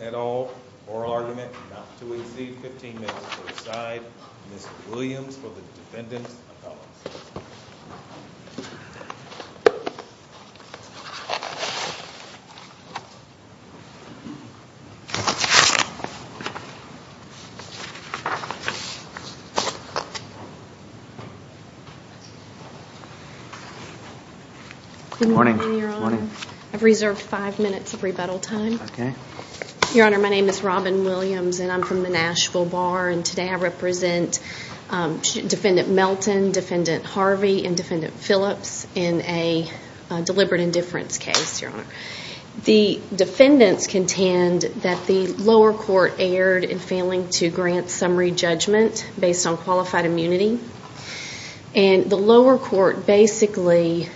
et al. Oral argument not to exceed 15 minutes to decide. Ms. Williams for the defendant's defense. Good morning, Your Honor. I've reserved five minutes of rebuttal time. Your Honor, my name is Robin Williams and I'm from the Nashville Bar and today I represent Defendant Melton, Defendant Harvey, and Defendant Phillips in a deliberate indifference case, Your Honor. The defendants contend that the lower court erred in failing to grant summary judgment based on qualified immunity. And the lower court basically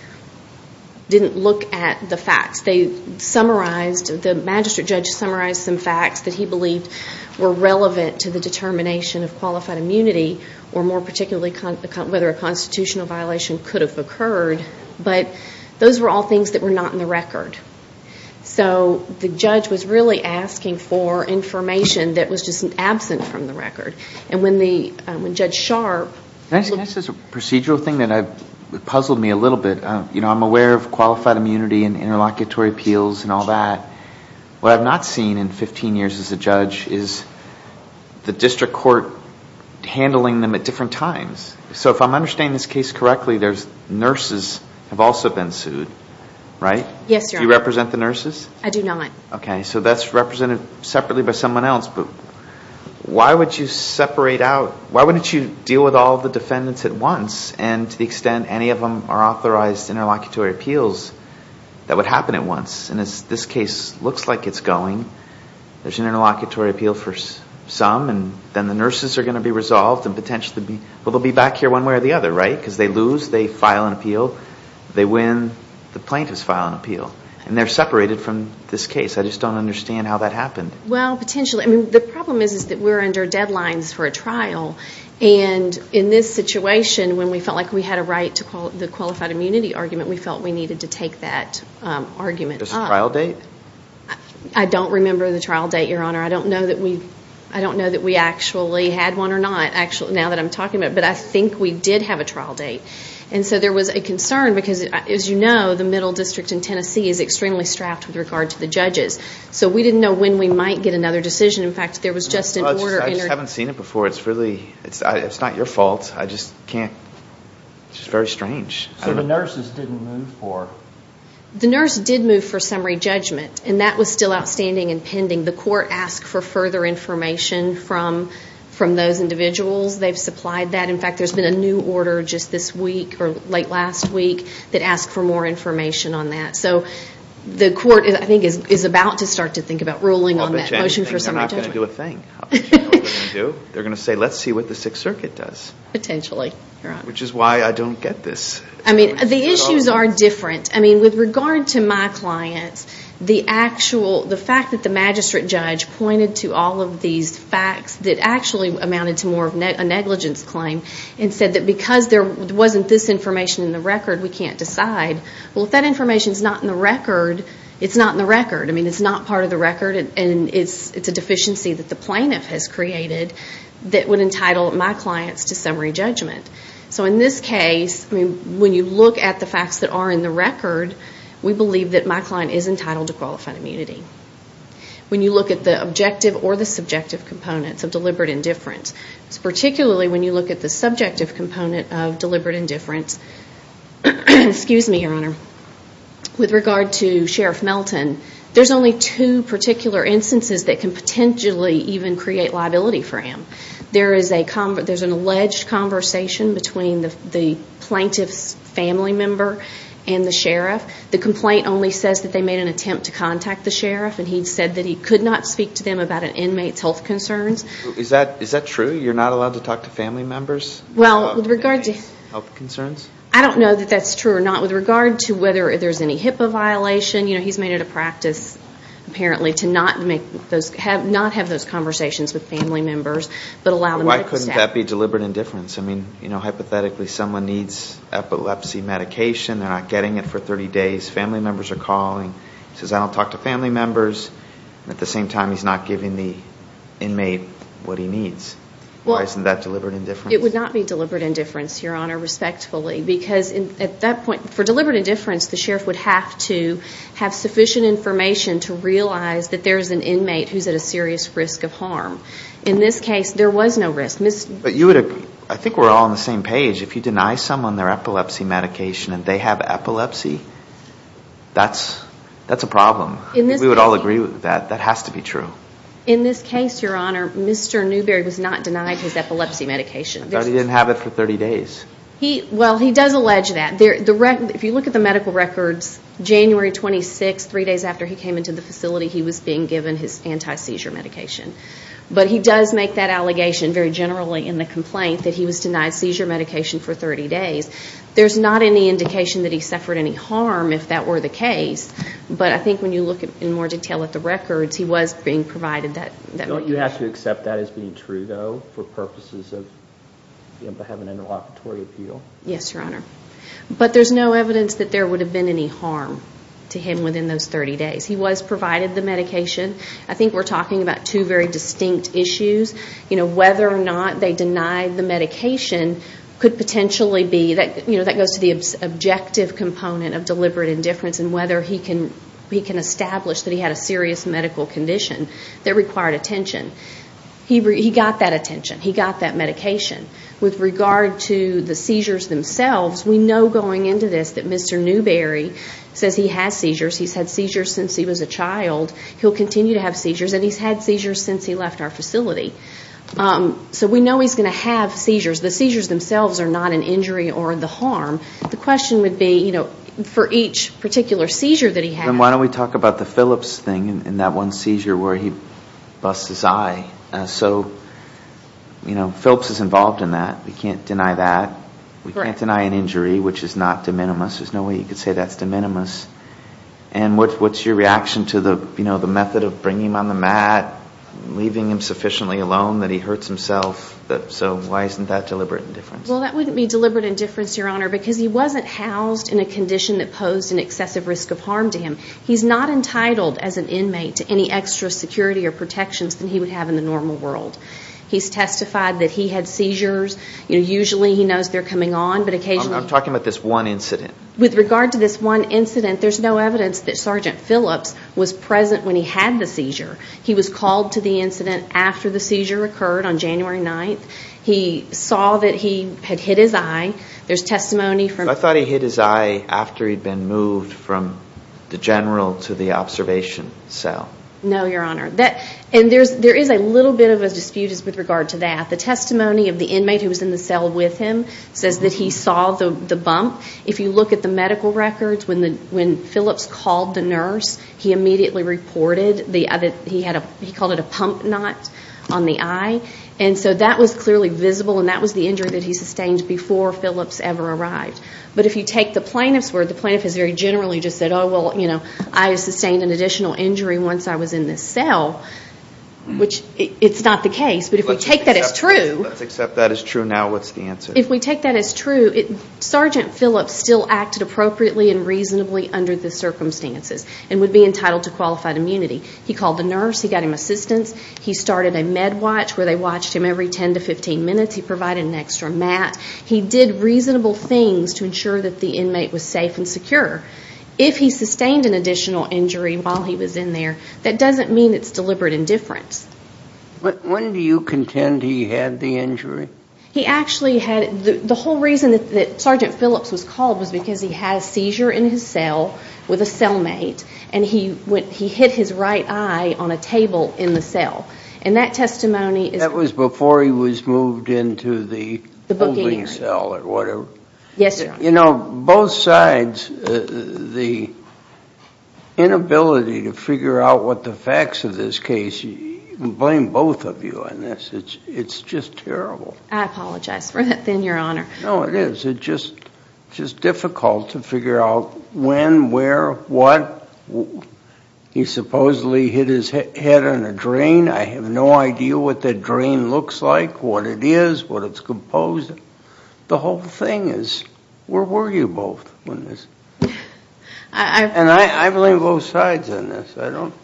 didn't look at the facts. They summarized, the magistrate judge summarized some facts that he believed were relevant to the determination of qualified immunity or more particularly whether a constitutional violation could have occurred. But those were all things that were not in the record. So the judge was really asking for information that was just absent from the record. And when Judge Sharp... Can I say this is a procedural thing that puzzled me a little bit. I'm aware of qualified immunity and interlocutory appeals and all that. What I've not seen in 15 years as a judge is the district court handling them at different times. So if I'm understanding this case correctly, nurses have also been sued, right? Yes, Your Honor. Do you represent the nurses? I do not. Okay. So that's represented separately by someone else. But why would you separate out... Why wouldn't you deal with all the defendants at once and to the extent any of them are authorized interlocutory appeals, that would happen at once. And this case looks like it's going. There's an interlocutory appeal for some and then the nurses are going to be resolved and potentially be... Well, they'll be back here one way or the other, right? Because they lose, they file an appeal, they win, the plaintiffs file an appeal. And they're separated from this case. I just don't understand how that happened. Well, potentially. I mean, the problem is that we're under deadlines for a trial. And in this situation, when we felt like we had a right to the qualified immunity argument, we felt we needed to take that argument up. This trial date? I don't remember the trial date, Your Honor. I don't know that we actually had one or not, now that I'm talking about it. But I think we did have a trial date. And so there was a concern because, as you know, the middle district in Tennessee is extremely strapped with regard to the judges. So we didn't know when we might get another decision. In fact, there was just an order... Well, I just haven't seen it before. It's really... It's not your fault. I just can't... It's just very strange. So the nurses didn't move for... The nurse did move for summary judgment. And that was still outstanding and pending. The court did ask for further information from those individuals. They've supplied that. In fact, there's been a new order just this week, or late last week, that asked for more information on that. So the court, I think, is about to start to think about ruling on that motion for summary judgment. Well, they're not going to do a thing. They're going to say, let's see what the Sixth Circuit does. Potentially, Your Honor. Which is why I don't get this. I mean, the issues are different. I mean, with regard to my clients, the actual... The fact that the magistrate judge pointed to all of these facts that actually amounted to more of a negligence claim, and said that because there wasn't this information in the record, we can't decide. Well, if that information's not in the record, it's not in the record. I mean, it's not part of the record. And it's a deficiency that the plaintiff has created that would entitle my clients to summary judgment. So in this case, I mean, when you look at the facts that are in the record, we believe that my client is entitled to qualified immunity. When you look at the objective or the subjective components of deliberate indifference, particularly when you look at the subjective component of deliberate indifference, with regard to Sheriff Melton, there's only two particular instances that can potentially even create liability for him. There's an alleged conversation between the plaintiff's family member and the sheriff. The complaint only says that they made an attempt to contact the sheriff, and he said that he could not speak to them about an inmate's health concerns. Is that true? You're not allowed to talk to family members about an inmate's health concerns? I don't know that that's true or not. With regard to whether there's any HIPAA violation, he's made it a practice, apparently, to not have those conversations with family members, but allow them to... Why couldn't that be deliberate indifference? I mean, you know, hypothetically, someone needs epilepsy medication. They're not getting it for 30 days. Family members are calling. He says, I don't talk to family members. At the same time, he's not giving the inmate what he needs. Why isn't that deliberate indifference? It would not be deliberate indifference, Your Honor, respectfully, because at that point, for deliberate indifference, the sheriff would have to have sufficient information to realize that there's an inmate who's at a serious risk of harm. In this case, there was no risk. But you would have... I think we're all on the same page. If you deny someone their epilepsy medication and they have epilepsy, that's a problem. We would all agree with that. That has to be true. In this case, Your Honor, Mr. Newberry was not denied his epilepsy medication. But he didn't have it for 30 days. Well, he does allege that. If you look at the medical records, January 26, three days after he came into the facility, he was being given his anti-seizure medication. But he does make that allegation very generally in the complaint that he was denied seizure medication for 30 days. There's not any indication that he suffered any harm if that were the case. But I think when you look in more detail at the records, he was being provided that medication. Don't you have to accept that as being true, though, for purposes of being able to have an interlocutory appeal? Yes, Your Honor. But there's no evidence that there would have been any harm to him within those 30 days. He was provided the medication. I think we're talking about two very distinct issues. Whether or not they denied the medication could potentially be, that goes to the objective component of deliberate indifference and whether he can establish that he had a serious medical condition that required attention. He got that attention. He got that medication. With regard to the seizures themselves, we know he's had seizures since he was a child. He'll continue to have seizures, and he's had seizures since he left our facility. So we know he's going to have seizures. The seizures themselves are not an injury or the harm. The question would be, for each particular seizure that he had... Then why don't we talk about the Phillips thing, and that one seizure where he busts his eye. Phillips is involved in that. We can't deny that. We can't deny an injury, which is not de minimis. There's no way you could say that's de minimis. And what's your reaction to the method of bringing him on the mat, leaving him sufficiently alone that he hurts himself? So why isn't that deliberate indifference? Well, that wouldn't be deliberate indifference, Your Honor, because he wasn't housed in a condition that posed an excessive risk of harm to him. He's not entitled as an inmate to any extra security or protections than he would have in the normal world. He's testified that he had seizures. Usually he knows they're coming on, but occasionally... I'm talking about this one incident. With regard to this one incident, there's no evidence that Sergeant Phillips was present when he had the seizure. He was called to the incident after the seizure occurred on January 9th. He saw that he had hit his eye. There's testimony from... I thought he hit his eye after he'd been moved from the general to the observation cell. No, Your Honor. And there is a little bit of a dispute with regard to that. The testimony of the inmate who was in the cell with him says that he saw the bump. If you look at the medical records, when Phillips called the nurse, he immediately reported that he called it a pump knot on the eye. And so that was clearly visible, and that was the injury that he sustained before Phillips ever arrived. But if you take the plaintiff's word, the plaintiff has very generally just said, oh, well, I sustained an additional injury once I was in this cell, which it's not the case. But if we take that as true... Let's accept that as true now. What's the answer? If we take that as true, Sergeant Phillips still acted appropriately and reasonably under the circumstances and would be entitled to qualified immunity. He called the nurse. He got him assistance. He started a med watch where they watched him every 10 to 15 minutes. He provided an extra mat. He did reasonable things to ensure that the inmate was safe and secure. If he sustained an additional injury while he was in there, that doesn't mean it's deliberate indifference. When do you contend he had the injury? He actually had... The whole reason that Sergeant Phillips was called was because he had a seizure in his cell with a cellmate, and he hit his right eye on a table in the cell. And that testimony is... That was before he was moved into the... The booking area. Moving cell or whatever. Yes, sir. You know, both sides, the inability to figure out what the facts of this case... You can blame both of you on this. It's just terrible. I apologize for that, then, Your Honor. No, it is. It's just difficult to figure out when, where, what. He supposedly hit his head on a drain. I have no idea what that drain looks like, what it is, what it's composed of. The whole thing is, where were you both when this... And I blame both sides on this. I don't...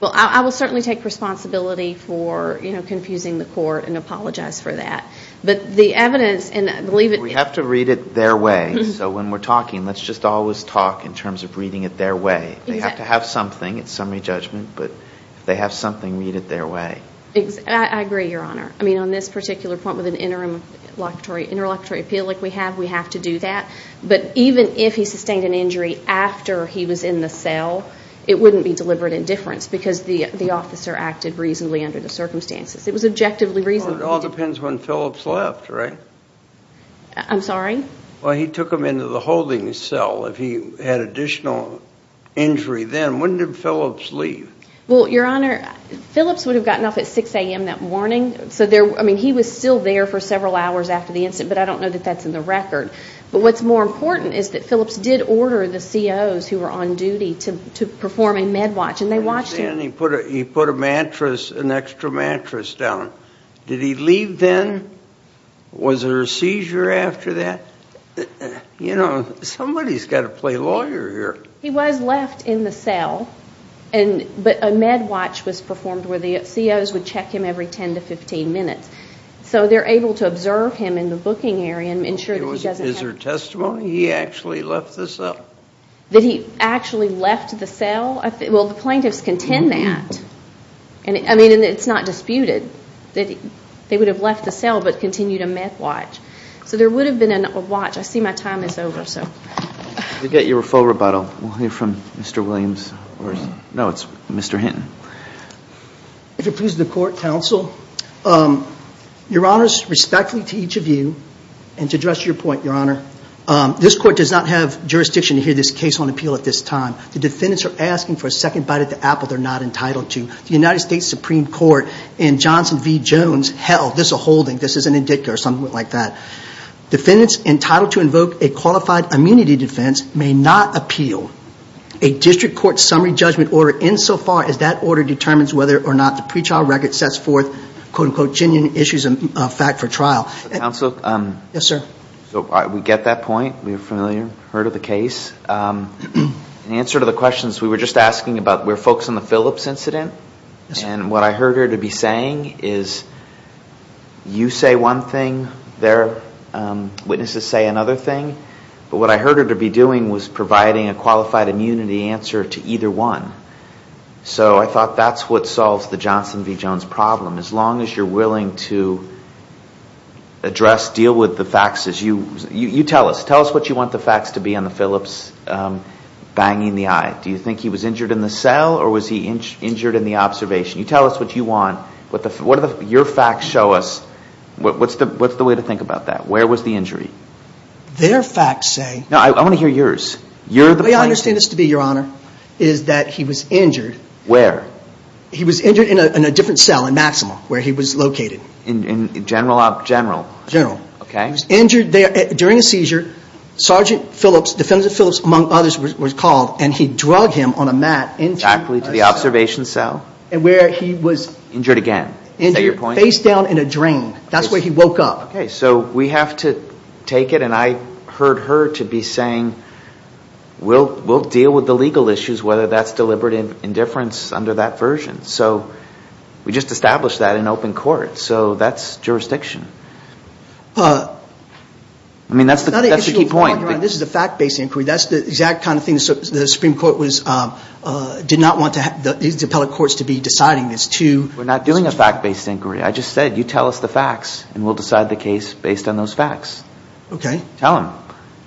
Well, I will certainly take responsibility for confusing the court and apologize for that. But the evidence, and I believe it... We have to read it their way. So when we're talking, let's just always talk in terms of reading it their way. They have to have something. It's summary judgment, but if they have something, read it their way. I agree, Your Honor. I mean, on this particular point, with an interim interlocutory appeal like we have, we have to do that. But even if he sustained an injury after he was in the cell, it wouldn't be deliberate indifference because the officer acted reasonably under the circumstances. It was objectively reasonable. Well, it all depends when Phillips left, right? I'm sorry? Well, he took him into the holding cell. If he had additional injury then, when did Phillips leave? Well, Your Honor, Phillips would have gotten off at 6 a.m. that morning. I mean, he was still there for several hours after the incident, but I don't know that that's in the record. But what's more important is that Phillips did order the COs who were on duty to perform a med watch, and they watched him. He put a mattress, an extra mattress down. Did he leave then? Was there a seizure after that? You know, somebody's got to play lawyer here. He was left in the cell, but a med watch was performed where the COs would check him every ten to fifteen minutes. So they're able to observe him in the booking area and ensure that he doesn't... Is there testimony he actually left the cell? That he actually left the cell? Well, the plaintiffs contend that. I mean, it's not disputed that they would have left the cell but continued a med watch. So there would have been a watch. I see my time is over, so... We'll get you a full rebuttal. We'll hear from Mr. Williams. No, it's Mr. Hinton. If it pleases the court, counsel, your honors, respectfully to each of you, and to address your point, your honor, this court does not have jurisdiction to hear this case on appeal at this time. The defendants are asking for a second bite at the apple they're not entitled to. The United States Supreme Court in Johnson v. Jones held this a holding. This is an indicia or something like that. Defendants entitled to invoke a qualified immunity defense may not appeal a district court summary judgment order insofar as that order determines whether or not the pre-trial record sets forth, quote-unquote, genuine issues of fact for trial. Counsel? Yes, sir. So we get that point. We're familiar, heard of the case. In answer to the questions we were just asking about, we're focused on the Phillips incident. And what I heard her to say is, you say one thing, their witnesses say another thing. But what I heard her to be doing was providing a qualified immunity answer to either one. So I thought that's what solves the Johnson v. Jones problem. As long as you're willing to address, deal with the facts, you tell us. Tell us what you want the facts to be on the Phillips banging the eye. Do you think he was injured in the cell or was he injured in the observation? You tell us what you want. What do your facts show us? What's the way to think about that? Where was the injury? Their facts say... No, I want to hear yours. You're the plaintiff. The way I understand this to be, Your Honor, is that he was injured. Where? He was injured in a different cell in Maximal, where he was located. In General? General. General. Okay. He was injured there during a seizure. Sergeant Phillips, Defendant Phillips, among others, was called. And he drug him on a mat into a cell. Exactly, to the observation cell. And where he was... Injured again. Face down in a drain. That's where he woke up. Okay. So we have to take it, and I heard her to be saying, we'll deal with the legal issues, whether that's deliberate indifference under that version. So we just established that in open court. So that's jurisdiction. I mean, that's the key point. This is a fact-based inquiry. That's the exact kind of thing the Supreme Court did not want these appellate courts to be deciding this to... We're not doing a fact-based inquiry. I just said, you tell us the facts, and we'll decide the case based on those facts. Okay. Tell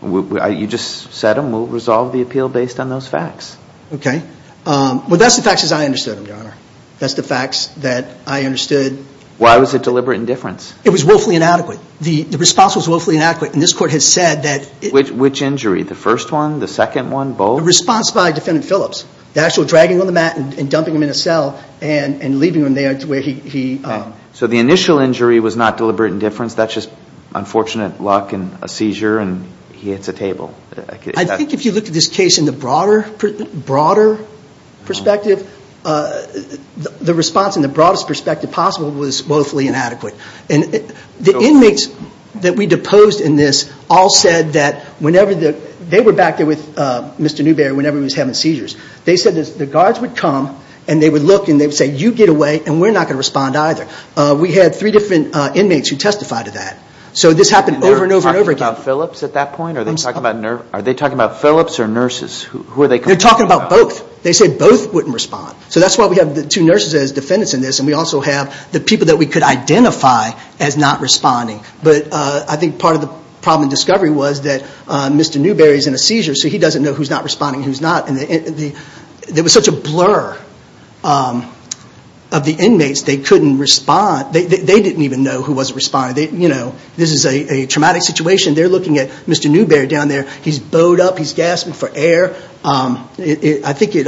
them. You just said them, we'll resolve the appeal based on those facts. Okay. Well, that's the facts as I understood them, Your Honor. That's the facts that I understood... Why was it deliberate indifference? It was willfully inadequate. The response was willfully inadequate. And this court has said that... Which injury? The first one? The second one? Both? The response by Defendant Phillips. The actual dragging on the mat and dumping him in a cell and leaving him there to where he... So the initial injury was not deliberate indifference? That's just unfortunate luck and a seizure and he hits a table? I think if you look at this case in the broader perspective, the response in the broadest perspective possible was willfully inadequate. And the inmates that we deposed in this all said that whenever... They were back there with Mr. Newberry whenever he was having seizures. They said the guards would come and they would look and they would say, you get away and we're not going to respond either. We had three different inmates who testified to that. So this happened over and over and over again. Are they talking about Phillips at that point? Are they talking about Phillips or nurses? Who are they talking about? They're talking about both. They said both wouldn't respond. So that's why we have the two nurses as defendants in this and we also have the people that we could identify as not responding. But I think part of the problem in discovery was that Mr. Newberry is in a seizure so he doesn't know who's not responding and who's not. There was such a blur of the inmates, they couldn't respond. They didn't even know who was responding. This is a traumatic situation. They're looking at Mr. Newberry down there. He's bowed up, he's gasping for air. I think it...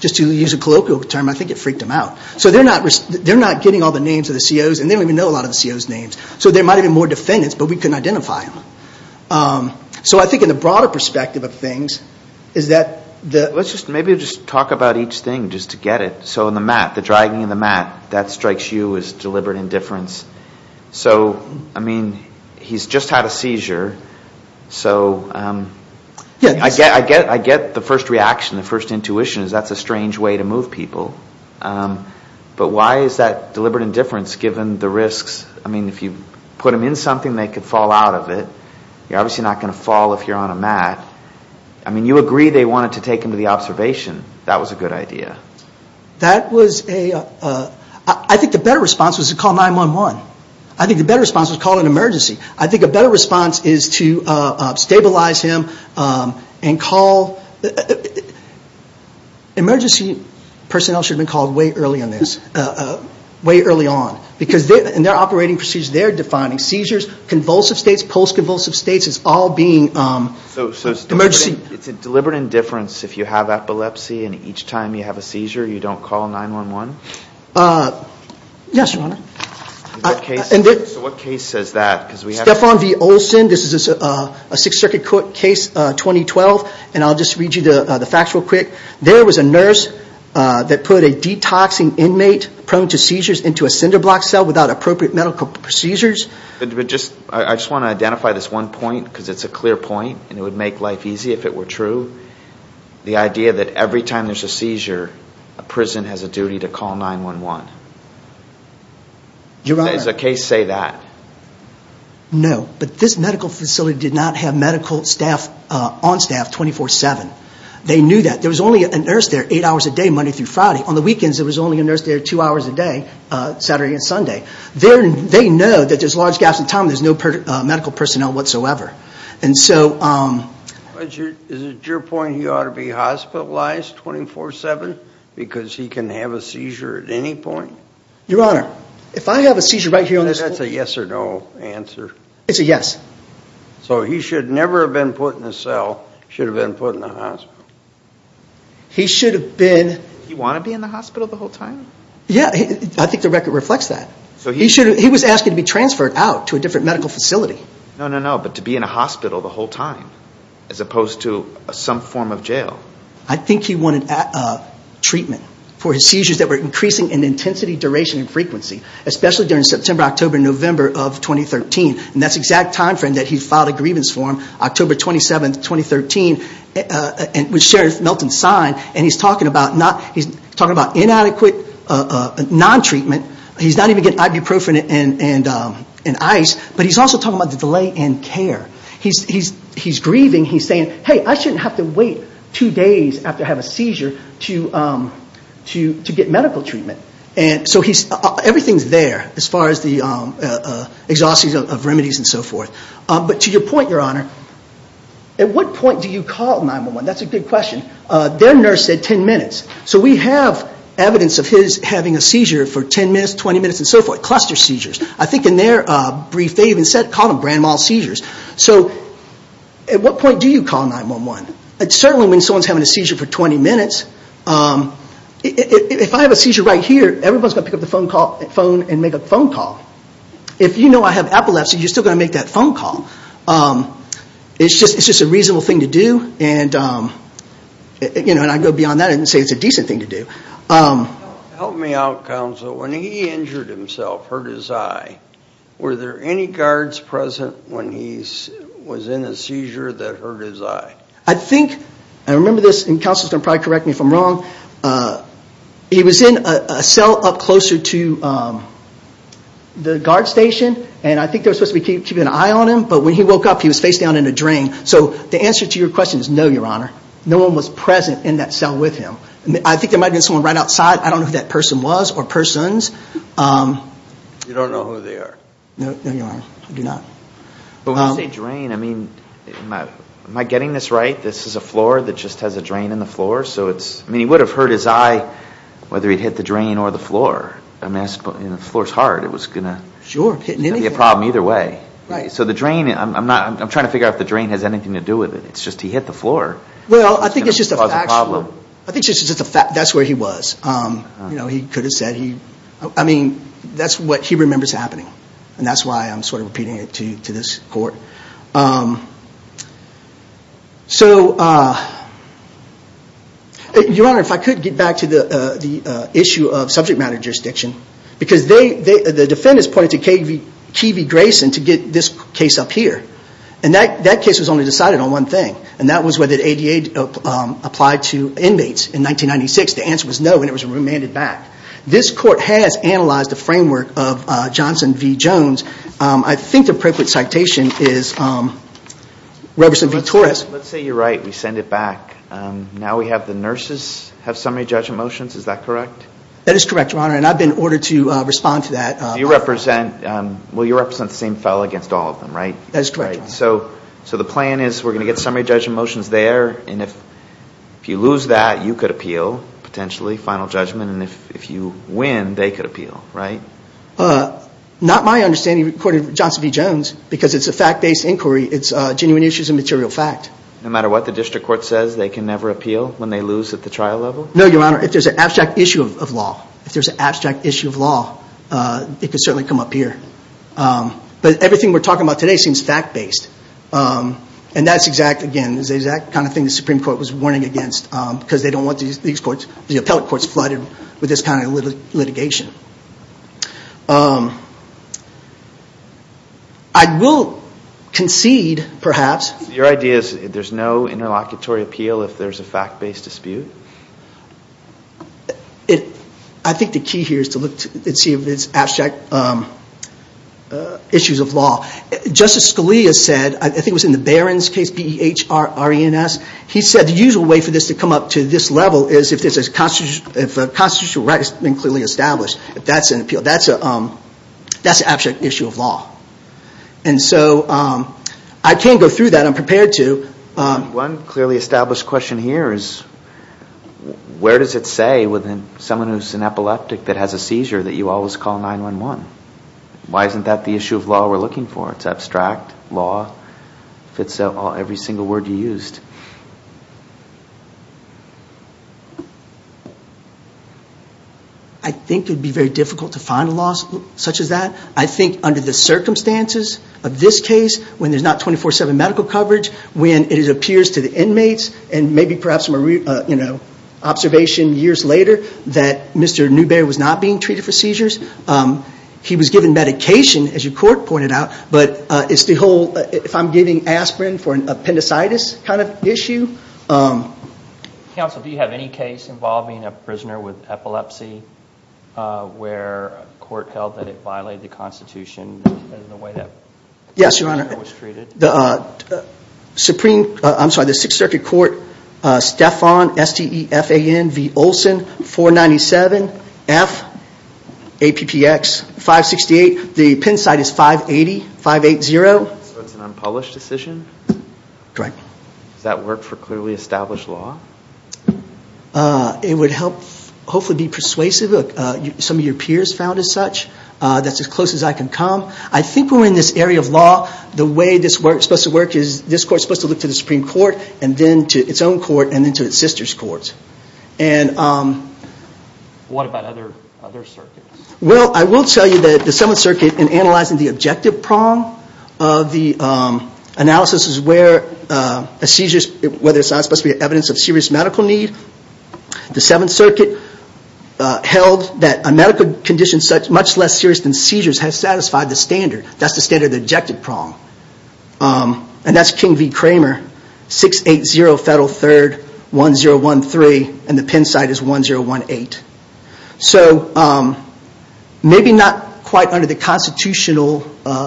Just to use a colloquial term, I think it freaked them out. So they're not getting all the names of the COs and they don't even know a lot of the COs' names. So there might have been more defendants but we couldn't identify them. So I think in the broader perspective of things is that the... Let's just maybe talk about each thing just to get it. So in the mat, the dragging of the mat, that strikes you as deliberate indifference. So I mean he's just had a seizure so I get the first reaction, the first intuition is that's a strange way to move people. But why is that deliberate indifference given the risks? I mean if you put him in something they could fall out of it. You're obviously not going to fall if you're on a mat. I mean you agree they wanted to take him to the observation. That was a good idea. That was a... I think the better response was to call 911. I think the better response was to call an emergency. I think a better response is to stabilize him and call... Emergency personnel should have been called way early on this. Way early on. Because in their operating procedures they're defining seizures, convulsive states, post-convulsive states as all being emergency. It's a deliberate indifference if you have epilepsy and each time you have a seizure you don't call 911? Yes, your honor. So what case says that? Stephan V. Olson, this is a Sixth Circuit case 2012 and I'll just read you the facts real quick. There was a nurse that put a detoxing inmate prone to seizures into a cinder block cell without appropriate medical procedures. I just want to identify this one point because it's a clear point and it would make life easy if it were true. The idea that every time there's a seizure, a prison has a duty to call 911. Your honor... Does the case say that? No, but this medical facility did not have medical staff on staff 24-7. They knew that. There was only a nurse there 8 hours a day Monday through Friday. On the weekends there was only a nurse there 2 hours a day, Saturday and Sunday. They know that there's large gaps in time, there's no medical personnel whatsoever. And so... Is it your point he ought to be hospitalized 24-7 because he can have a seizure at any point? Your honor, if I have a seizure right here on this floor... That's a yes or no answer. It's a yes. So he should never have been put in a cell, he should have been put in a hospital. He should have been... Did he want to be in the hospital the whole time? Yeah, I think the record reflects that. He was asking to be transferred out to a different medical facility. No, no, no, but to be in a hospital the whole time as opposed to some form of jail. I think he wanted treatment for his seizures that were increasing in intensity, duration and frequency. Especially during September, October, November of 2013 and that's the exact time frame that he filed a grievance form, October 27, 2013, which Sheriff Melton signed and he's talking about inadequate non-treatment, he's not even getting ibuprofen and ice, but he's also talking about the delay in care. He's grieving, he's saying, hey, I shouldn't have to wait two days after I have a seizure to get medical treatment. Everything's there as far as the exhaustive remedies and so forth. But to your point, your honor, at what point do you call 9-1-1? That's a good question. Their nurse said 10 minutes. So we have evidence of his having a seizure for 10 minutes, 20 minutes and so forth, cluster seizures. I think in their brief, they even called them grand mal seizures. So at what point do you call 9-1-1? Certainly when someone's having a seizure for 20 minutes, if I have a seizure right here, everyone's going to pick up the phone and make a phone call. If you know I have epilepsy, you're still going to make that phone call. It's just a reasonable thing to do and I'd go beyond that and say it's a decent thing to do. Help me out, counsel, when he injured himself, hurt his eye, were there any guards present when he was in a seizure that hurt his eye? I think, I remember this and counsel's going to probably correct me if I'm wrong, he was in a cell up closer to the guard station and I think they were supposed to be keeping an eye on him, but when he woke up, he was face down in a drain. So the answer to your question is no, your honor. No one was present in that cell with him. I think there might have been someone right outside, I don't know who that person was or persons. You don't know who they are? No, your honor, I do not. But when you say drain, I mean, am I getting this right? This is a floor that just has a drain in the floor, so it's, I mean he would have hurt his eye whether he'd hit the drain or the floor, I mean the floor's hard, it was going to be a problem either way. So the drain, I'm not, I'm trying to figure out if the drain has anything to do with it, it's just he hit the floor. Well, I think it's just a factual. I think it's just a fact, that's where he was, you know, he could have said he, I mean that's what he remembers happening, and that's why I'm sort of repeating it to this court. So your honor, if I could get back to the issue of subject matter jurisdiction, because the defendants pointed to K.V. Grayson to get this case up here, and that case was only decided on one thing, and that was whether the ADA applied to inmates in 1996, the answer was no, and it was remanded back. This court has analyzed the framework of Johnson v. Jones, I think the appropriate citation is Reverson v. Torres. Let's say you're right, we send it back, now we have the nurses have summary judgment motions, is that correct? That is correct, your honor, and I've been ordered to respond to that. You represent, well you represent the same fellow against all of them, right? That is correct, your honor. So the plan is we're going to get summary judgment motions there, and if you lose that, you could appeal, potentially, final judgment, and if you win, they could appeal, right? Not my understanding, according to Johnson v. Jones, because it's a fact-based inquiry, it's genuine issues and material fact. No matter what the district court says, they can never appeal when they lose at the trial level? No, your honor, if there's an abstract issue of law, if there's an abstract issue of law, it could certainly come up here. But everything we're talking about today seems fact-based, and that's exactly, again, the exact kind of thing the Supreme Court was warning against, because they don't want these courts, the appellate courts, flooded with this kind of litigation. I will concede, perhaps. Your idea is there's no interlocutory appeal if there's a fact-based dispute? I think the key here is to look and see if it's abstract issues of law. Justice Scalia said, I think it was in the Barron's case, B-E-H-R-R-E-N-S, he said the usual way for this to come up to this level is if a constitutional right has been clearly established, that's an appeal, that's an abstract issue of law. And so I can't go through that, I'm prepared to. One clearly established question here is, where does it say, with someone who's an epileptic that has a seizure, that you always call 9-1-1? Why isn't that the issue of law we're looking for, it's abstract, law, if it's every single word you used? I think it would be very difficult to find a law such as that. I think under the circumstances of this case, when there's not 24-7 medical coverage, when it appears to the inmates, and maybe perhaps an observation years later that Mr. Newberry was not being treated for seizures, he was given medication, as your court pointed out, but it's the whole, if I'm giving aspirin for an appendicitis kind of issue. Counsel, do you have any case involving a prisoner with epilepsy where a court held that it violated the Constitution in the way that the prisoner was treated? Yes, Your Honor. The Supreme, I'm sorry, the Sixth Circuit Court, Stephan, S-T-E-F-A-N-V-Olson, 497-F-A-P-P-X-568. The pen site is 580, 5-8-0. So it's an unpublished decision? Correct. Does that work for clearly established law? It would help, hopefully be persuasive, some of your peers found as such, that's as close as I can come. I think we're in this area of law, the way this court's supposed to work is this court's supposed to look to the Supreme Court, and then to its own court, and then to its sister's courts. What about other circuits? Well, I will tell you that the Seventh Circuit, in analyzing the objective prong of the analysis is where a seizure, whether it's not supposed to be evidence of serious medical need. The Seventh Circuit held that a medical condition much less serious than seizures has satisfied the standard. That's the standard of the objective prong. And that's King v. Kramer, 680 Federal 3rd, 1013, and the pen site is 1018. So maybe not quite under the constitutional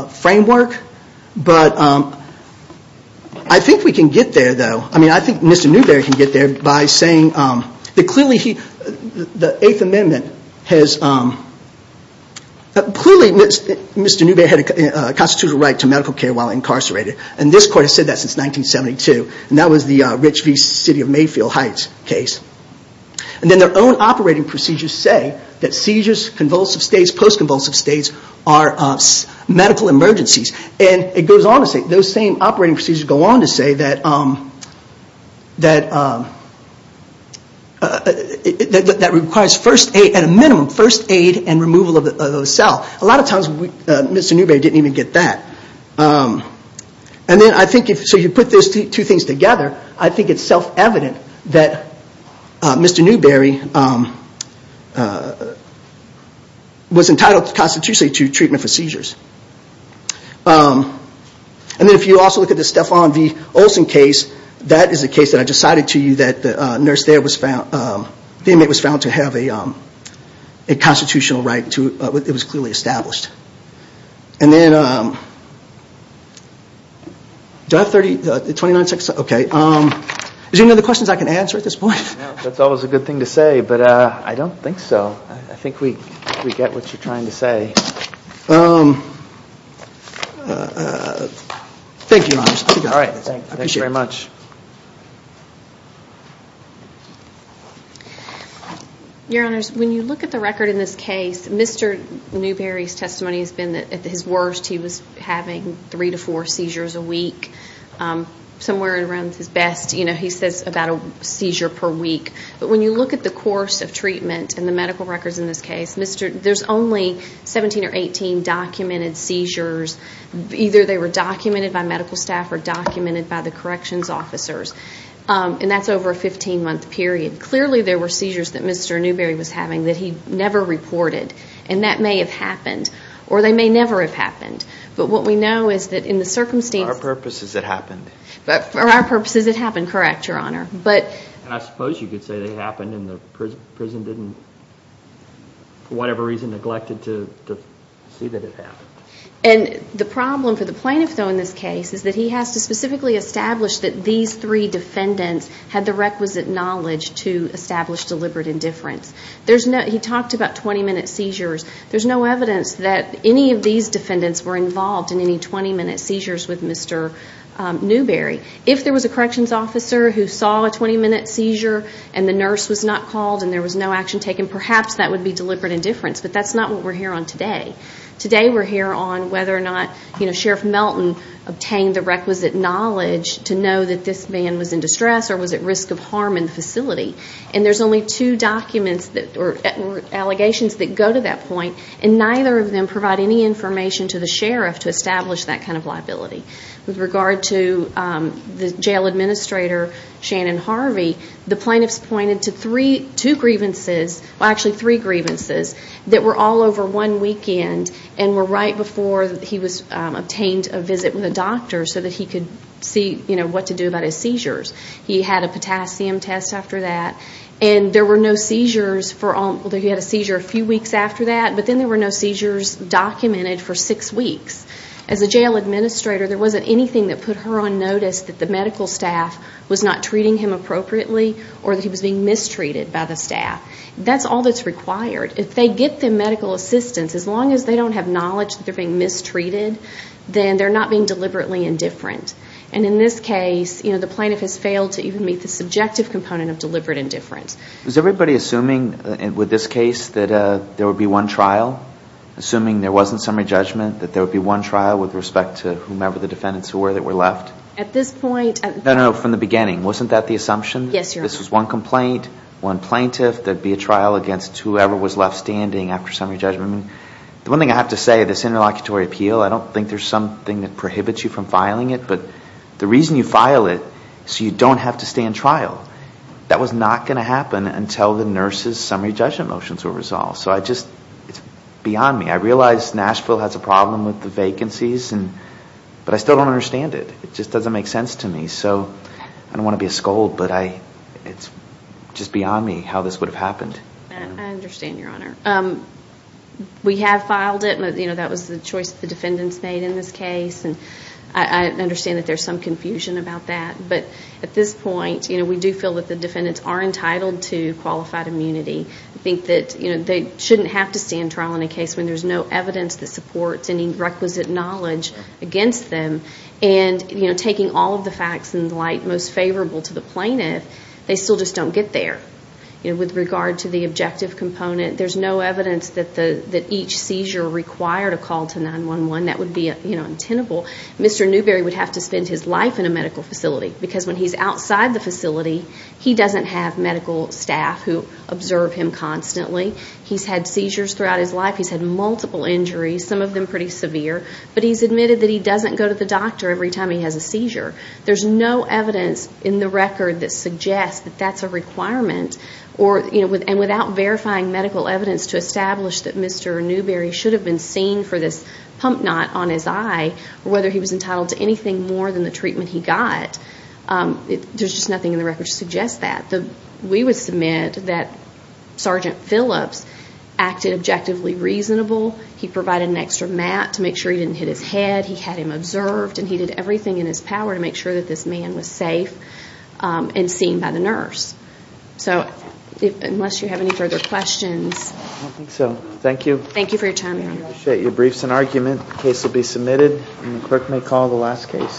framework, but I think we can get there, though. I mean, I think Mr. Newberry can get there by saying that clearly he, the Eighth Amendment has, clearly Mr. Newberry had a constitutional right to medical care while incarcerated, and this court has said that since 1972, and that was the Rich V. City of Mayfield Heights case. And then their own operating procedures say that seizures, convulsive states, post-convulsive states are medical emergencies. And it goes on to say, those same operating procedures go on to say that, that requires first aid, at a minimum, first aid and removal of the cell. A lot of times, Mr. Newberry didn't even get that. And then I think, so you put those two things together, I think it's self-evident that Mr. Newberry was entitled constitutionally to treatment for seizures. And then if you also look at the Stefan v. Olsen case, that is a case that I just cited to you that the nurse there was found, the inmate was found to have a constitutional right to, it was clearly established. And then, do I have 30, 29 seconds, okay, is there any other questions I can answer at this point? No, that's always a good thing to say, but I don't think so, I think we get what you're trying to say. Thank you, Your Honor. I appreciate it. All right, thanks very much. Your Honors, when you look at the record in this case, Mr. Newberry's testimony has been that at his worst, he was having three to four seizures a week. Somewhere around his best, you know, he says about a seizure per week. But when you look at the course of treatment and the medical records in this case, there's only 17 or 18 documented seizures, either they were documented by medical staff or documented by the corrections officers, and that's over a 15-month period. Clearly there were seizures that Mr. Newberry was having that he never reported, and that may have happened, or they may never have happened. But what we know is that in the circumstances- For our purposes, it happened. For our purposes, it happened, correct, Your Honor. But- I suppose you could say they happened and the prison didn't, for whatever reason, neglected to see that it happened. And the problem for the plaintiff, though, in this case, is that he has to specifically establish that these three defendants had the requisite knowledge to establish deliberate indifference. There's no- He talked about 20-minute seizures. There's no evidence that any of these defendants were involved in any 20-minute seizures with Mr. Newberry. If there was a corrections officer who saw a 20-minute seizure and the nurse was not called and there was no action taken, perhaps that would be deliberate indifference, but that's not what we're here on today. Today, we're here on whether or not Sheriff Melton obtained the requisite knowledge to know that this man was in distress or was at risk of harm in the facility. And there's only two documents or allegations that go to that point, and neither of them provide any information to the sheriff to establish that kind of liability. With regard to the jail administrator, Shannon Harvey, the plaintiffs pointed to three- that were all over one weekend and were right before he was obtained a visit with a doctor so that he could see, you know, what to do about his seizures. He had a potassium test after that, and there were no seizures for all- He had a seizure a few weeks after that, but then there were no seizures documented for six weeks. As a jail administrator, there wasn't anything that put her on notice that the medical staff was not treating him appropriately or that he was being mistreated by the staff. That's all that's required. If they get the medical assistance, as long as they don't have knowledge that they're being mistreated, then they're not being deliberately indifferent. And in this case, you know, the plaintiff has failed to even meet the subjective component of deliberate indifference. Is everybody assuming with this case that there would be one trial? Assuming there wasn't summary judgment, that there would be one trial with respect to whomever the defendants were that were left? At this point- No, no, no. From the beginning. Wasn't that the assumption? Yes, Your Honor. This was one complaint, one plaintiff, there'd be a trial against whoever was left standing after summary judgment. I mean, the one thing I have to say, this interlocutory appeal, I don't think there's something that prohibits you from filing it, but the reason you file it so you don't have to stay in trial, that was not going to happen until the nurse's summary judgment motions were resolved. So I just- It's beyond me. I realize Nashville has a problem with the vacancies, but I still don't understand it. It just doesn't make sense to me. So I don't want to be a scold, but it's just beyond me how this would have happened. I understand, Your Honor. We have filed it, but that was the choice the defendants made in this case, and I understand that there's some confusion about that, but at this point, we do feel that the defendants are entitled to qualified immunity. I think that they shouldn't have to stand trial in a case when there's no evidence that is in light most favorable to the plaintiff. They still just don't get there. With regard to the objective component, there's no evidence that each seizure required a call to 911. That would be untenable. Mr. Newberry would have to spend his life in a medical facility because when he's outside the facility, he doesn't have medical staff who observe him constantly. He's had seizures throughout his life. He's had multiple injuries, some of them pretty severe, but he's admitted that he doesn't go to the doctor every time he has a seizure. There's no evidence in the record that suggests that that's a requirement, and without verifying medical evidence to establish that Mr. Newberry should have been seen for this pump knot on his eye, or whether he was entitled to anything more than the treatment he got, there's just nothing in the record to suggest that. We would submit that Sergeant Phillips acted objectively reasonable. He provided an extra mat to make sure he didn't hit his head. He had him observed, and he did everything in his power to make sure that this man was safe and seen by the nurse. So unless you have any further questions... I don't think so. Thank you. Thank you for your time. I appreciate your briefs and argument. The case will be submitted, and the clerk may call the last case.